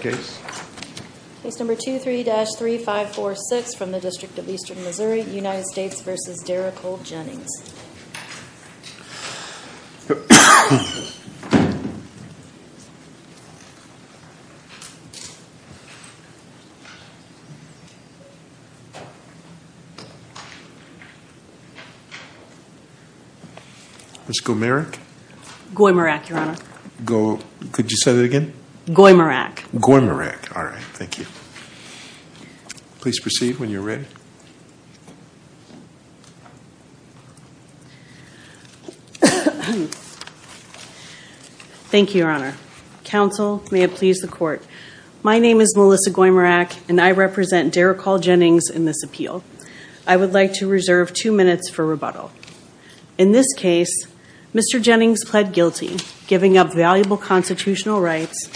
Case number 23-3546 from the District of Eastern Missouri, United States v. Derrecol Jennings Ms. Goimerack? Goimerack, Your Honor. Could you say that again? Goimerack. Goimerack, all right. Thank you. Please proceed when you're ready. Thank you, Your Honor. Counsel, may it please the Court. My name is Melissa Goimerack, and I represent Derrecol Jennings in this appeal. I would like to reserve two minutes for rebuttal. In this case, Mr. Jennings pled guilty, giving up valuable constitutional rights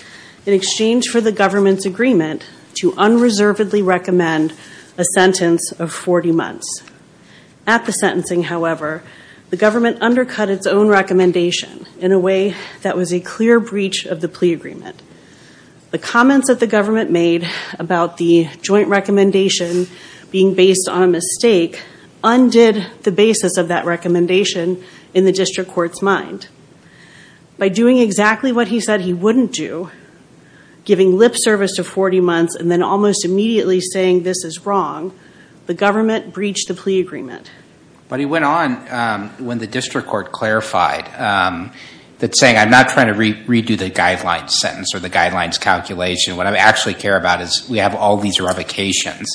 in exchange for the government's agreement to unreservedly recommend a sentence of 40 months. At the sentencing, however, the government undercut its own recommendation in a way that was a clear breach of the plea agreement. The comments that the government made about the joint recommendation being based on a mistake undid the basis of that recommendation in the district court's mind. By doing exactly what he said he wouldn't do, giving lip service to 40 months and then almost immediately saying this is wrong, the government breached the plea agreement. But he went on when the district court clarified that saying I'm not trying to redo the guidelines sentence or the guidelines calculation. What I actually care about is we have all these revocations.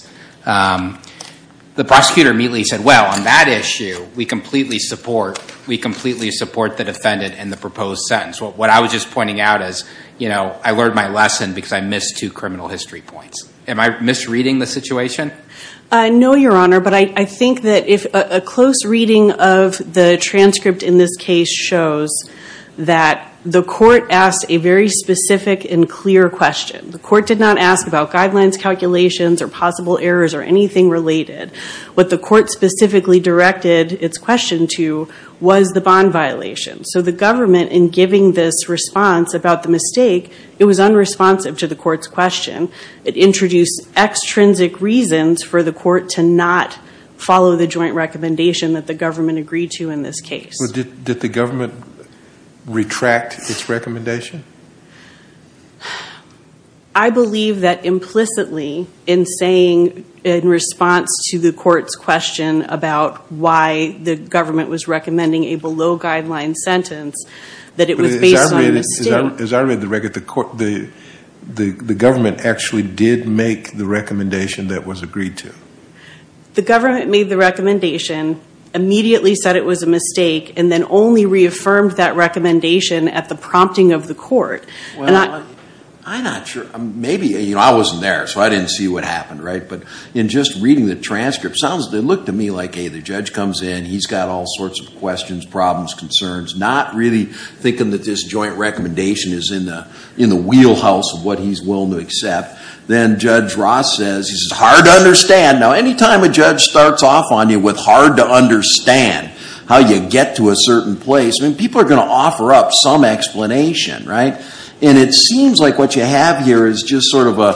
The prosecutor immediately said, well, on that issue, we completely support the defendant and the proposed sentence. What I was just pointing out is I learned my lesson because I missed two criminal history points. Am I misreading the situation? No, Your Honor. But I think that if a close reading of the transcript in this case shows that the court asked a very specific and clear question. The court did not ask about guidelines calculations or possible errors or anything related. What the court specifically directed its question to was the bond violation. So the government, in giving this response about the mistake, it was unresponsive to the court's question. It introduced extrinsic reasons for the court to not follow the joint recommendation that the government agreed to in this case. Did the government retract its recommendation? I believe that implicitly in saying in response to the court's question about why the government was recommending a below guideline sentence, that it was based on mistake. The government actually did make the recommendation that was agreed to. The government made the recommendation, immediately said it was a mistake, and then only reaffirmed that recommendation at the prompting of the court. I'm not sure. Maybe. I wasn't there, so I didn't see what happened. But in just reading the transcript, it looked to me like, hey, the judge comes in, he's got all sorts of questions, problems, concerns. Not really thinking that this joint recommendation is in the wheelhouse of what he's willing to accept. Then Judge Ross says, it's hard to understand. Now, any time a judge starts off on you with hard to understand how you get to a certain place, people are going to offer up some explanation. And it seems like what you have here is just sort of a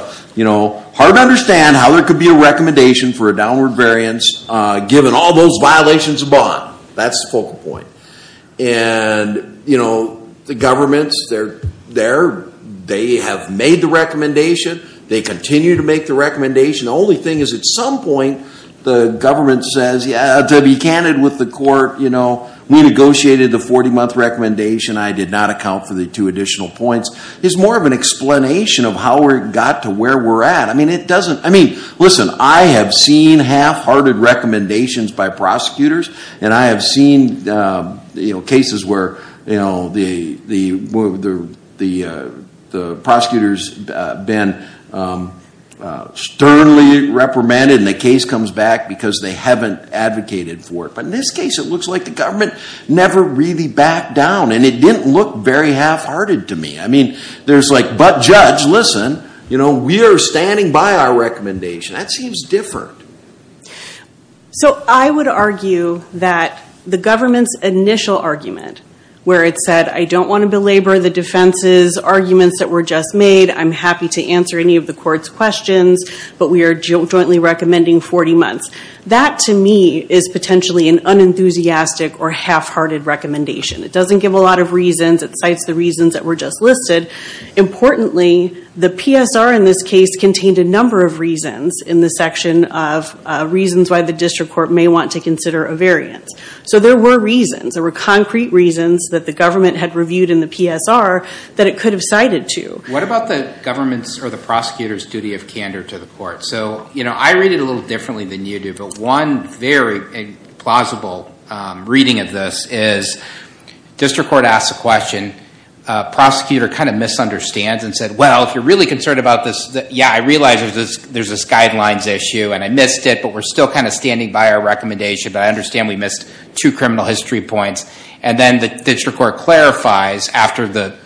hard to understand how there could be a recommendation for a downward variance, given all those violations of bond. That's the focal point. And the government's there. They have made the recommendation. They continue to make the recommendation. The only thing is, at some point, the government says, yeah, to be candid with the court, we negotiated the 40-month recommendation. I did not account for the two additional points. It's more of an explanation of how we got to where we're at. Listen, I have seen half-hearted recommendations by prosecutors. And I have seen cases where the prosecutor's been sternly reprimanded and the case comes back because they haven't advocated for it. But in this case, it looks like the government never really backed down. And it didn't look very half-hearted to me. I mean, there's like, but judge, listen, we are standing by our recommendation. That seems different. So I would argue that the government's initial argument, where it said, I don't want to belabor the defense's arguments that were just made. I'm happy to answer any of the court's questions. But we are jointly recommending 40 months. That, to me, is potentially an unenthusiastic or half-hearted recommendation. It doesn't give a lot of reasons. It cites the reasons that were just listed. Importantly, the PSR in this case contained a number of reasons in the section of reasons why the district court may want to consider a variance. So there were reasons. There were concrete reasons that the government had reviewed in the PSR that it could have cited to. What about the government's or the prosecutor's duty of candor to the court? So I read it a little differently than you do. But one very plausible reading of this is district court asks a question. Prosecutor kind of misunderstands and said, well, if you're really concerned about this, yeah, I realize there's this guidelines issue. And I missed it. But we're still kind of standing by our recommendation. But I understand we missed two criminal history points. And then the district court clarifies after the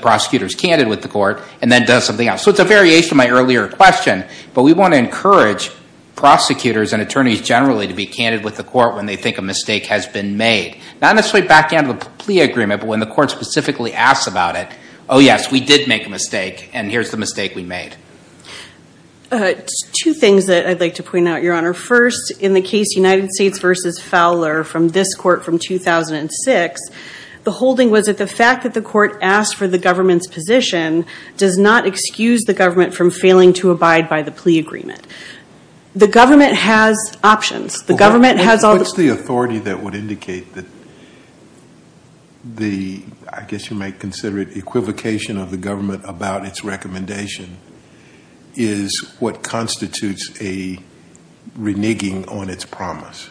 prosecutor's candid with the court and then does something else. So it's a variation of my earlier question. But we want to encourage prosecutors and attorneys generally to be candid with the court when they think a mistake has been made. Not necessarily backhand of the plea agreement, but when the court specifically asks about it, oh, yes, we did make a mistake. And here's the mistake we made. Two things that I'd like to point out, Your Honor. First, in the case United States v. Fowler from this court from 2006, the holding was that the fact that the court asked for the government's position does not excuse the government from failing to abide by the plea agreement. The government has options. The government has all the- What's the authority that would indicate that the, I guess you might consider it equivocation of the government about its recommendation, is what constitutes a reneging on its promise?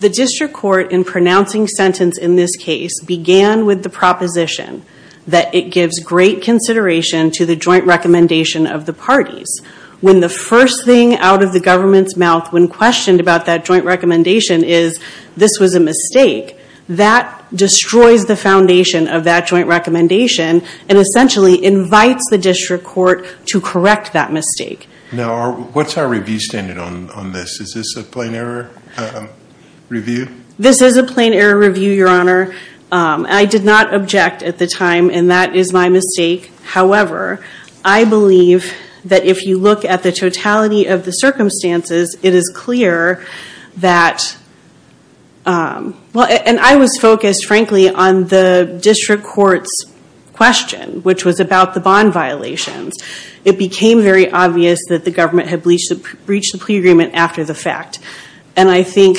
The district court in pronouncing sentence in this case began with the proposition that it gives great consideration to the joint recommendation of the parties. When the first thing out of the government's mouth when questioned about that joint recommendation is this was a mistake, that destroys the foundation of that joint recommendation and essentially invites the district court to correct that mistake. Now, what's our review standard on this? Is this a plain error review? This is a plain error review, Your Honor. I did not object at the time, and that is my mistake. However, I believe that if you look at the totality of the circumstances, it is clear that- And I was focused, frankly, on the district court's question, which was about the bond violations. It became very obvious that the government had breached the plea agreement after the fact. And I think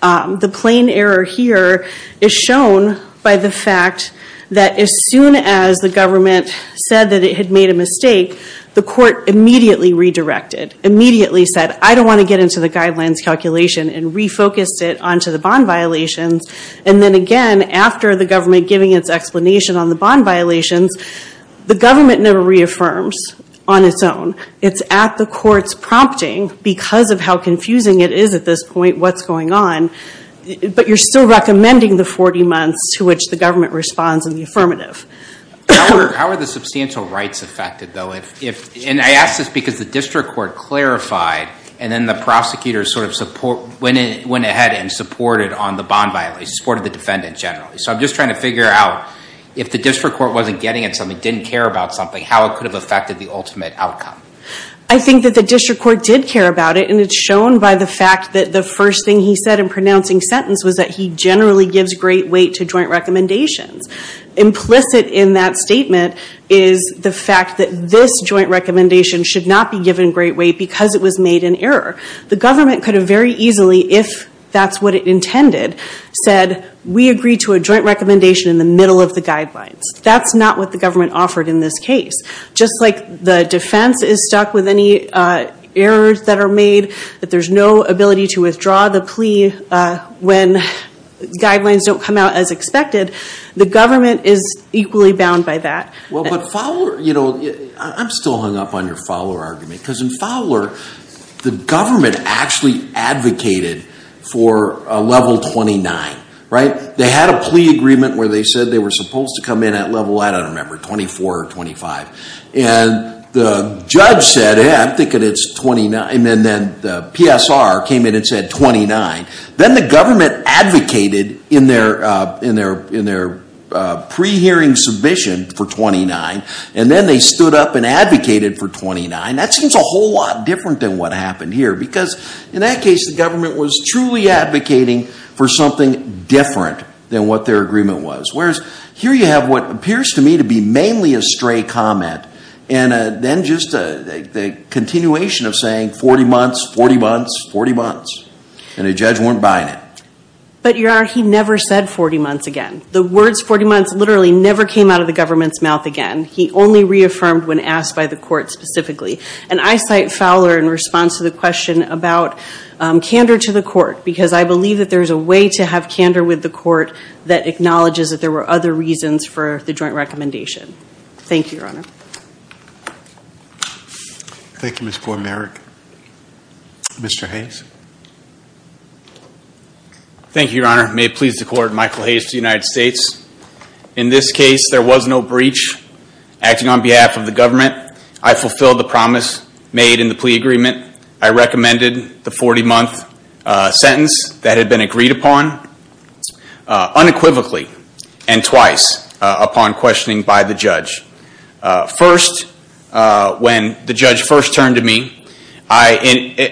the plain error here is shown by the fact that as soon as the government said that it had made a mistake, the court immediately redirected, immediately said, I don't want to get into the guidelines calculation and refocused it onto the bond violations. And then again, after the government giving its explanation on the bond violations, the government never reaffirms on its own. It's at the court's prompting because of how confusing it is at this point, what's going on. But you're still recommending the 40 months to which the government responds in the affirmative. How are the substantial rights affected, though? And I ask this because the district court clarified, and then the prosecutors sort of went ahead and supported on the bond violations, supported the defendant generally. So I'm just trying to figure out if the district court wasn't getting at something, didn't care about something, how it could have affected the ultimate outcome. I think that the district court did care about it, and it's shown by the fact that the first thing he said in pronouncing sentence was that he generally gives great weight to joint recommendations. Implicit in that statement is the fact that this joint recommendation should not be given great weight because it was made in error. The government could have very easily, if that's what it intended, said, we agree to a joint recommendation in the middle of the guidelines. That's not what the government offered in this case. Just like the defense is stuck with any errors that are made, that there's no ability to withdraw the plea when guidelines don't come out as expected, the government is equally bound by that. Well, but Fowler, you know, I'm still hung up on your Fowler argument. Because in Fowler, the government actually advocated for a level 29, right? They had a plea agreement where they said they were supposed to come in at level, I don't remember, 24 or 25. And the judge said, yeah, I'm thinking it's 29. And then the PSR came in and said 29. Then the government advocated in their pre-hearing submission for 29. And then they stood up and advocated for 29. That seems a whole lot different than what happened here. Because in that case, the government was truly advocating for something different than what their agreement was. Whereas here you have what appears to me to be mainly a stray comment. And then just the continuation of saying 40 months, 40 months, 40 months. And the judge weren't buying it. But, Your Honor, he never said 40 months again. The words 40 months literally never came out of the government's mouth again. He only reaffirmed when asked by the court specifically. And I cite Fowler in response to the question about candor to the court. Because I believe that there's a way to have candor with the court that acknowledges that there were other reasons for the joint recommendation. Thank you, Your Honor. Thank you, Ms. Poymeric. Mr. Hayes. Thank you, Your Honor. May it please the court, Michael Hayes of the United States. In this case, there was no breach. Acting on behalf of the government, I fulfilled the promise made in the plea agreement. I recommended the 40-month sentence that had been agreed upon unequivocally and twice upon questioning by the judge. First, when the judge first turned to me, I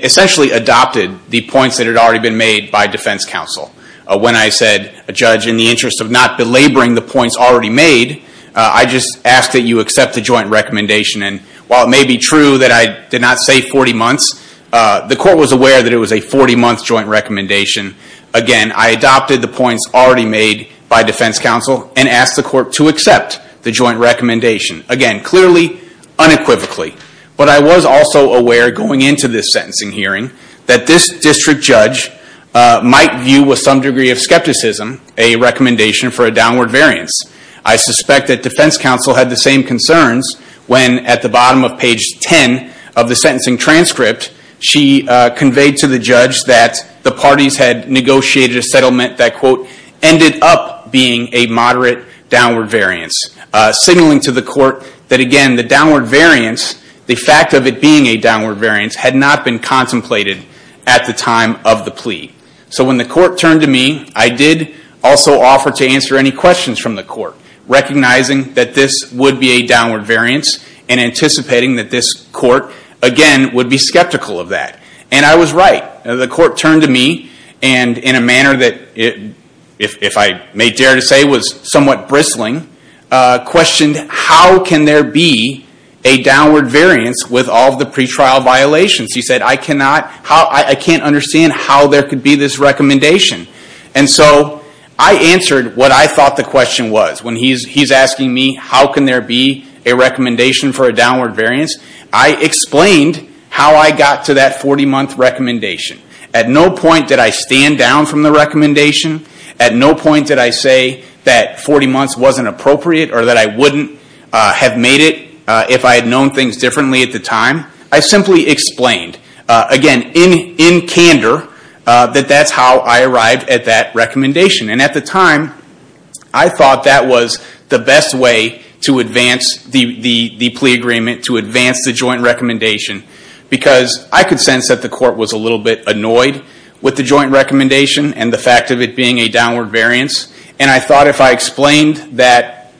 essentially adopted the points that had already been made by defense counsel. When I said, a judge, in the interest of not belaboring the points already made, I just asked that you accept the joint recommendation. And while it may be true that I did not say 40 months, the court was aware that it was a 40-month joint recommendation. Again, I adopted the points already made by defense counsel and asked the court to accept the joint recommendation. Again, clearly, unequivocally. But I was also aware, going into this sentencing hearing, that this district judge might view, with some degree of skepticism, a recommendation for a downward variance. I suspect that defense counsel had the same concerns when, at the bottom of page 10 of the sentencing transcript, she conveyed to the judge that the parties had negotiated a settlement that, quote, ended up being a moderate downward variance, signaling to the court that, again, the downward variance, the fact of it being a downward variance, had not been contemplated at the time of the plea. So when the court turned to me, I did also offer to answer any questions from the court, recognizing that this would be a downward variance and anticipating that this court, again, would be skeptical of that. And I was right. The court turned to me and, in a manner that, if I may dare to say, was somewhat bristling, questioned how can there be a downward variance with all of the pretrial violations. She said, I can't understand how there could be this recommendation. And so I answered what I thought the question was. When he's asking me how can there be a recommendation for a downward variance, I explained how I got to that 40-month recommendation. At no point did I stand down from the recommendation. At no point did I say that 40 months wasn't appropriate or that I wouldn't have made it if I had known things differently at the time. I simply explained, again, in candor, that that's how I arrived at that recommendation. And at the time, I thought that was the best way to advance the plea agreement, to advance the joint recommendation, because I could sense that the court was a little bit annoyed with the joint recommendation and the fact of it being a downward variance. And I thought if I explained that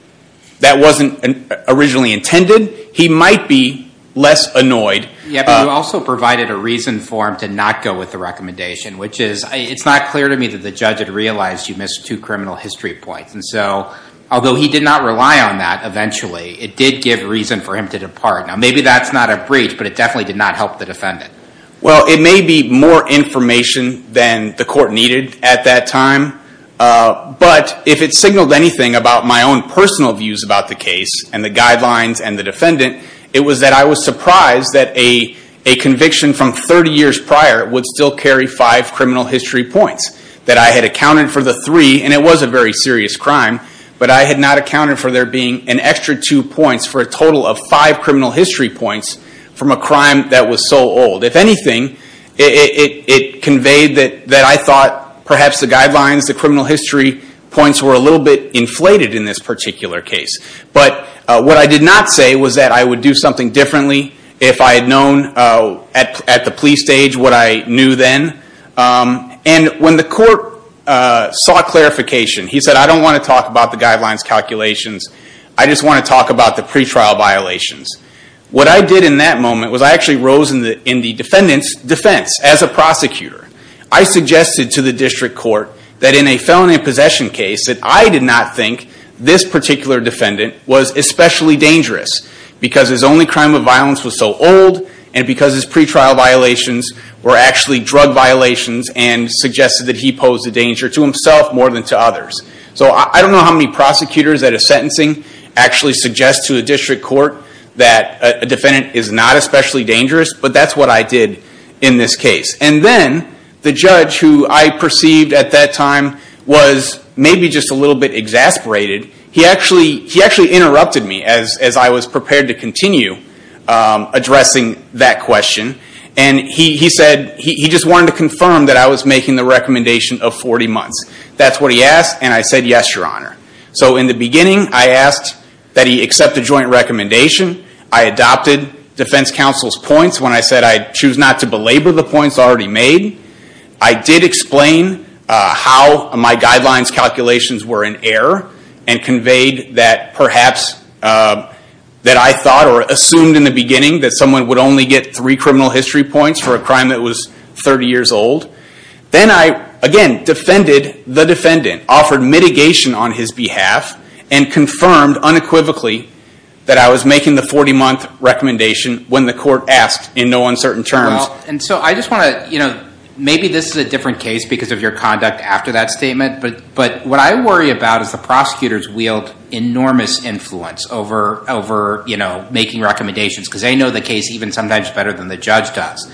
that wasn't originally intended, he might be less annoyed. Yeah, but you also provided a reason for him to not go with the recommendation, which is, it's not clear to me that the judge had realized you missed two criminal history points. And so, although he did not rely on that eventually, it did give reason for him to depart. Now, maybe that's not a breach, but it definitely did not help the defendant. Well, it may be more information than the court needed at that time, but if it signaled anything about my own personal views about the case and the guidelines and the defendant, it was that I was surprised that a conviction from 30 years prior would still carry five criminal history points, that I had accounted for the three, and it was a very serious crime, but I had not accounted for there being an extra two points for a total of five criminal history points from a crime that was so old. If anything, it conveyed that I thought perhaps the guidelines, the criminal history points, were a little bit inflated in this particular case. But what I did not say was that I would do something differently if I had known at the plea stage what I knew then. And when the court saw clarification, he said, I don't want to talk about the guidelines calculations, I just want to talk about the pretrial violations. What I did in that moment was I actually rose in the defendant's defense as a prosecutor. I suggested to the district court that in a felony possession case, that I did not think this particular defendant was especially dangerous, because his only crime of violence was so old, and because his pretrial violations were actually drug violations, and suggested that he posed a danger to himself more than to others. So I don't know how many prosecutors at a sentencing actually suggest to a district court that a defendant is not especially dangerous, but that's what I did in this case. And then the judge, who I perceived at that time was maybe just a little bit exasperated, he actually interrupted me as I was prepared to continue addressing that question, and he said he just wanted to confirm that I was making the recommendation of 40 months. That's what he asked, and I said yes, your honor. So in the beginning, I asked that he accept the joint recommendation. I adopted defense counsel's points when I said I'd choose not to belabor the points already made. I did explain how my guidelines calculations were in error, and conveyed that perhaps, that I thought or assumed in the beginning, that someone would only get three criminal history points for a crime that was 30 years old. Then I, again, defended the defendant, offered mitigation on his behalf, and confirmed unequivocally that I was making the 40-month recommendation when the court asked in no uncertain terms. Well, and so I just want to, you know, maybe this is a different case because of your conduct after that statement, but what I worry about is the prosecutors wield enormous influence over, you know, making recommendations, because they know the case even sometimes better than the judge does.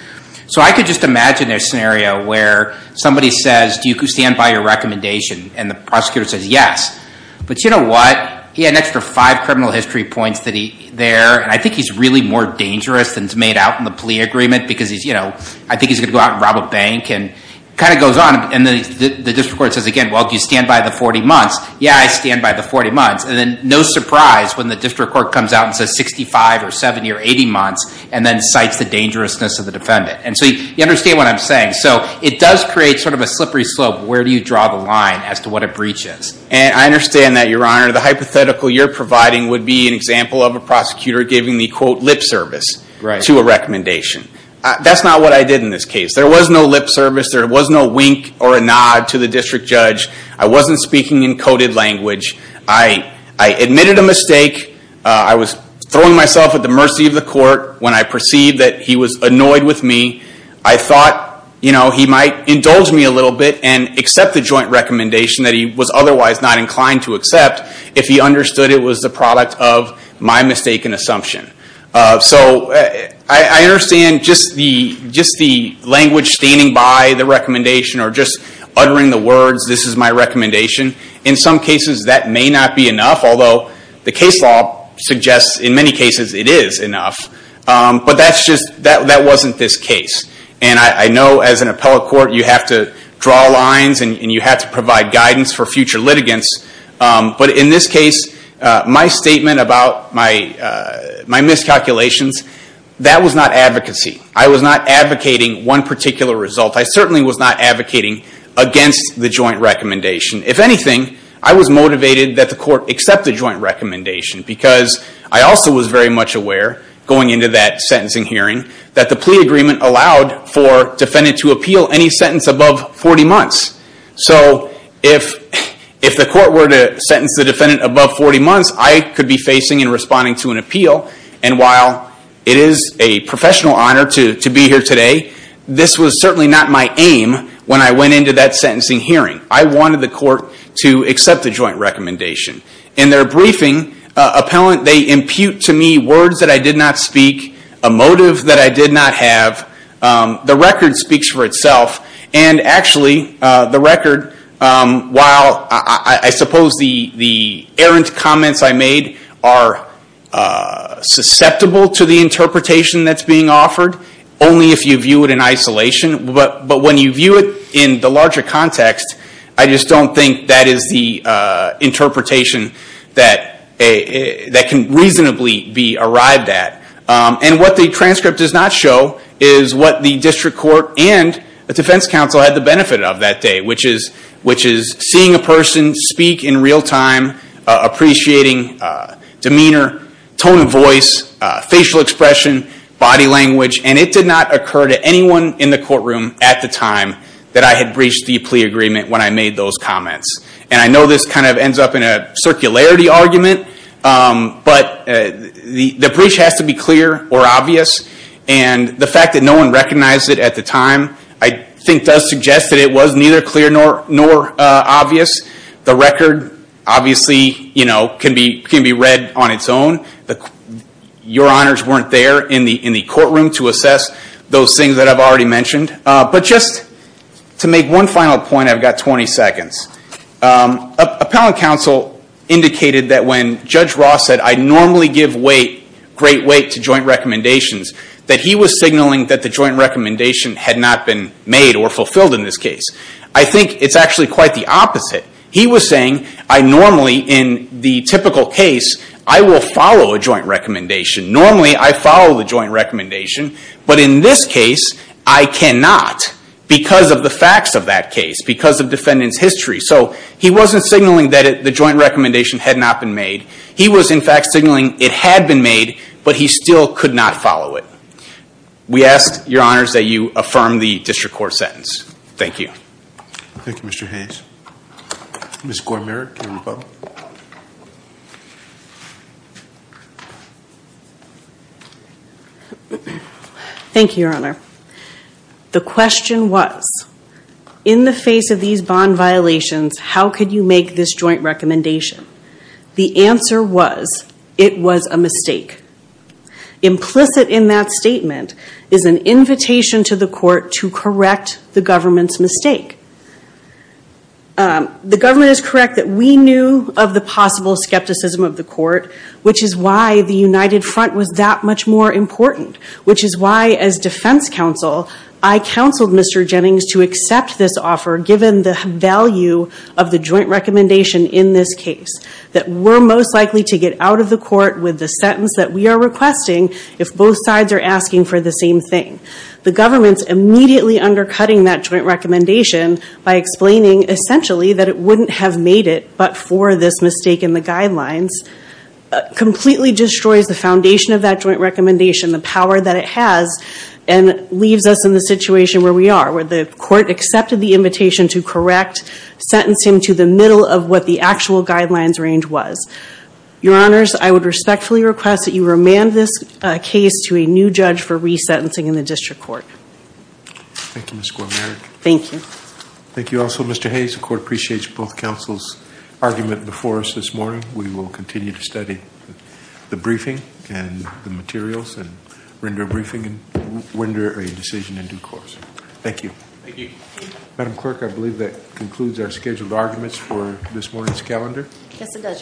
So I could just imagine a scenario where somebody says, do you stand by your recommendation? And the prosecutor says yes. But you know what? He had an extra five criminal history points there, and I think he's really more dangerous than is made out in the plea agreement, because he's, you know, I think he's going to go out and rob a bank, and it kind of goes on. And the district court says again, well, do you stand by the 40 months? Yeah, I stand by the 40 months. And then no surprise when the district court comes out and says 65 or 70 or 80 months, and then cites the dangerousness of the defendant. And so you understand what I'm saying. So it does create sort of a slippery slope. Where do you draw the line as to what a breach is? And I understand that, Your Honor. The hypothetical you're providing would be an example of a prosecutor giving the, quote, lip service to a recommendation. That's not what I did in this case. There was no lip service. There was no wink or a nod to the district judge. I wasn't speaking in coded language. I admitted a mistake. I was throwing myself at the mercy of the court when I perceived that he was annoyed with me. I thought, you know, he might indulge me a little bit and accept the joint recommendation that he was otherwise not inclined to accept if he understood it was the product of my mistaken assumption. So I understand just the language standing by the recommendation or just uttering the words, this is my recommendation. In some cases, that may not be enough, although the case law suggests in many cases it is enough. But that's just, that wasn't this case. And I know as an appellate court, you have to draw lines and you have to provide guidance for future litigants. But in this case, my statement about my miscalculations, that was not advocacy. I was not advocating one particular result. I certainly was not advocating against the joint recommendation. If anything, I was motivated that the court accept the joint recommendation because I also was very much aware, going into that sentencing hearing, that the plea agreement allowed for defendant to appeal any sentence above 40 months. So if the court were to sentence the defendant above 40 months, I could be facing and responding to an appeal. And while it is a professional honor to be here today, this was certainly not my aim when I went into that sentencing hearing. I wanted the court to accept the joint recommendation. In their briefing, appellant, they impute to me words that I did not speak, a motive that I did not have. The record speaks for itself. And actually, the record, while I suppose the errant comments I made are susceptible to the interpretation that's being offered, only if you view it in isolation. But when you view it in the larger context, I just don't think that is the interpretation that can reasonably be arrived at. And what the transcript does not show is what the district court and the defense counsel had the benefit of that day, which is seeing a person speak in real time, appreciating demeanor, tone of voice, facial expression, body language. And it did not occur to anyone in the courtroom at the time that I had breached the plea agreement when I made those comments. And I know this kind of ends up in a circularity argument, but the breach has to be clear or obvious. And the fact that no one recognized it at the time, I think, does suggest that it was neither clear nor obvious. The record, obviously, can be read on its own. Your honors weren't there in the courtroom to assess those things that I've already mentioned. But just to make one final point, I've got 20 seconds. Appellant counsel indicated that when Judge Ross said, I normally give great weight to joint recommendations, that he was signaling that the joint recommendation had not been made or fulfilled in this case. I think it's actually quite the opposite. He was saying, I normally, in the typical case, I will follow a joint recommendation. Normally, I follow the joint recommendation. But in this case, I cannot because of the facts of that case, because of defendant's history. So he wasn't signaling that the joint recommendation had not been made. He was, in fact, signaling it had been made, but he still could not follow it. We ask, your honors, that you affirm the district court sentence. Thank you. Thank you, Mr. Hayes. Ms. Gormerick, your rebuttal. Thank you, your honor. The question was, in the face of these bond violations, how could you make this joint recommendation? The answer was, it was a mistake. Implicit in that statement is an invitation to the court to correct the government's mistake. The government is correct that we knew of the possible skepticism of the court, which is why the United Front was that much more important, which is why, as defense counsel, I counseled Mr. Jennings to accept this offer, given the value of the joint recommendation in this case, that we're most likely to get out of the court with the sentence that we are requesting if both sides are asking for the same thing. The government's immediately undercutting that joint recommendation by explaining, essentially, that it wouldn't have made it but for this mistake in the guidelines, completely destroys the foundation of that joint recommendation, the power that it has, and leaves us in the situation where we are, where the court accepted the invitation to correct, sentenced him to the middle of what the actual guidelines range was. Your Honors, I would respectfully request that you remand this case to a new judge for resentencing in the district court. Thank you, Ms. Gorman. Thank you. Thank you also, Mr. Hayes. The court appreciates both counsel's argument before us this morning. We will continue to study the briefing and the materials and render a decision in due course. Thank you. Thank you. Madam Clerk, I believe that concludes our scheduled arguments for this morning's calendar. Yes, it does, Your Honor.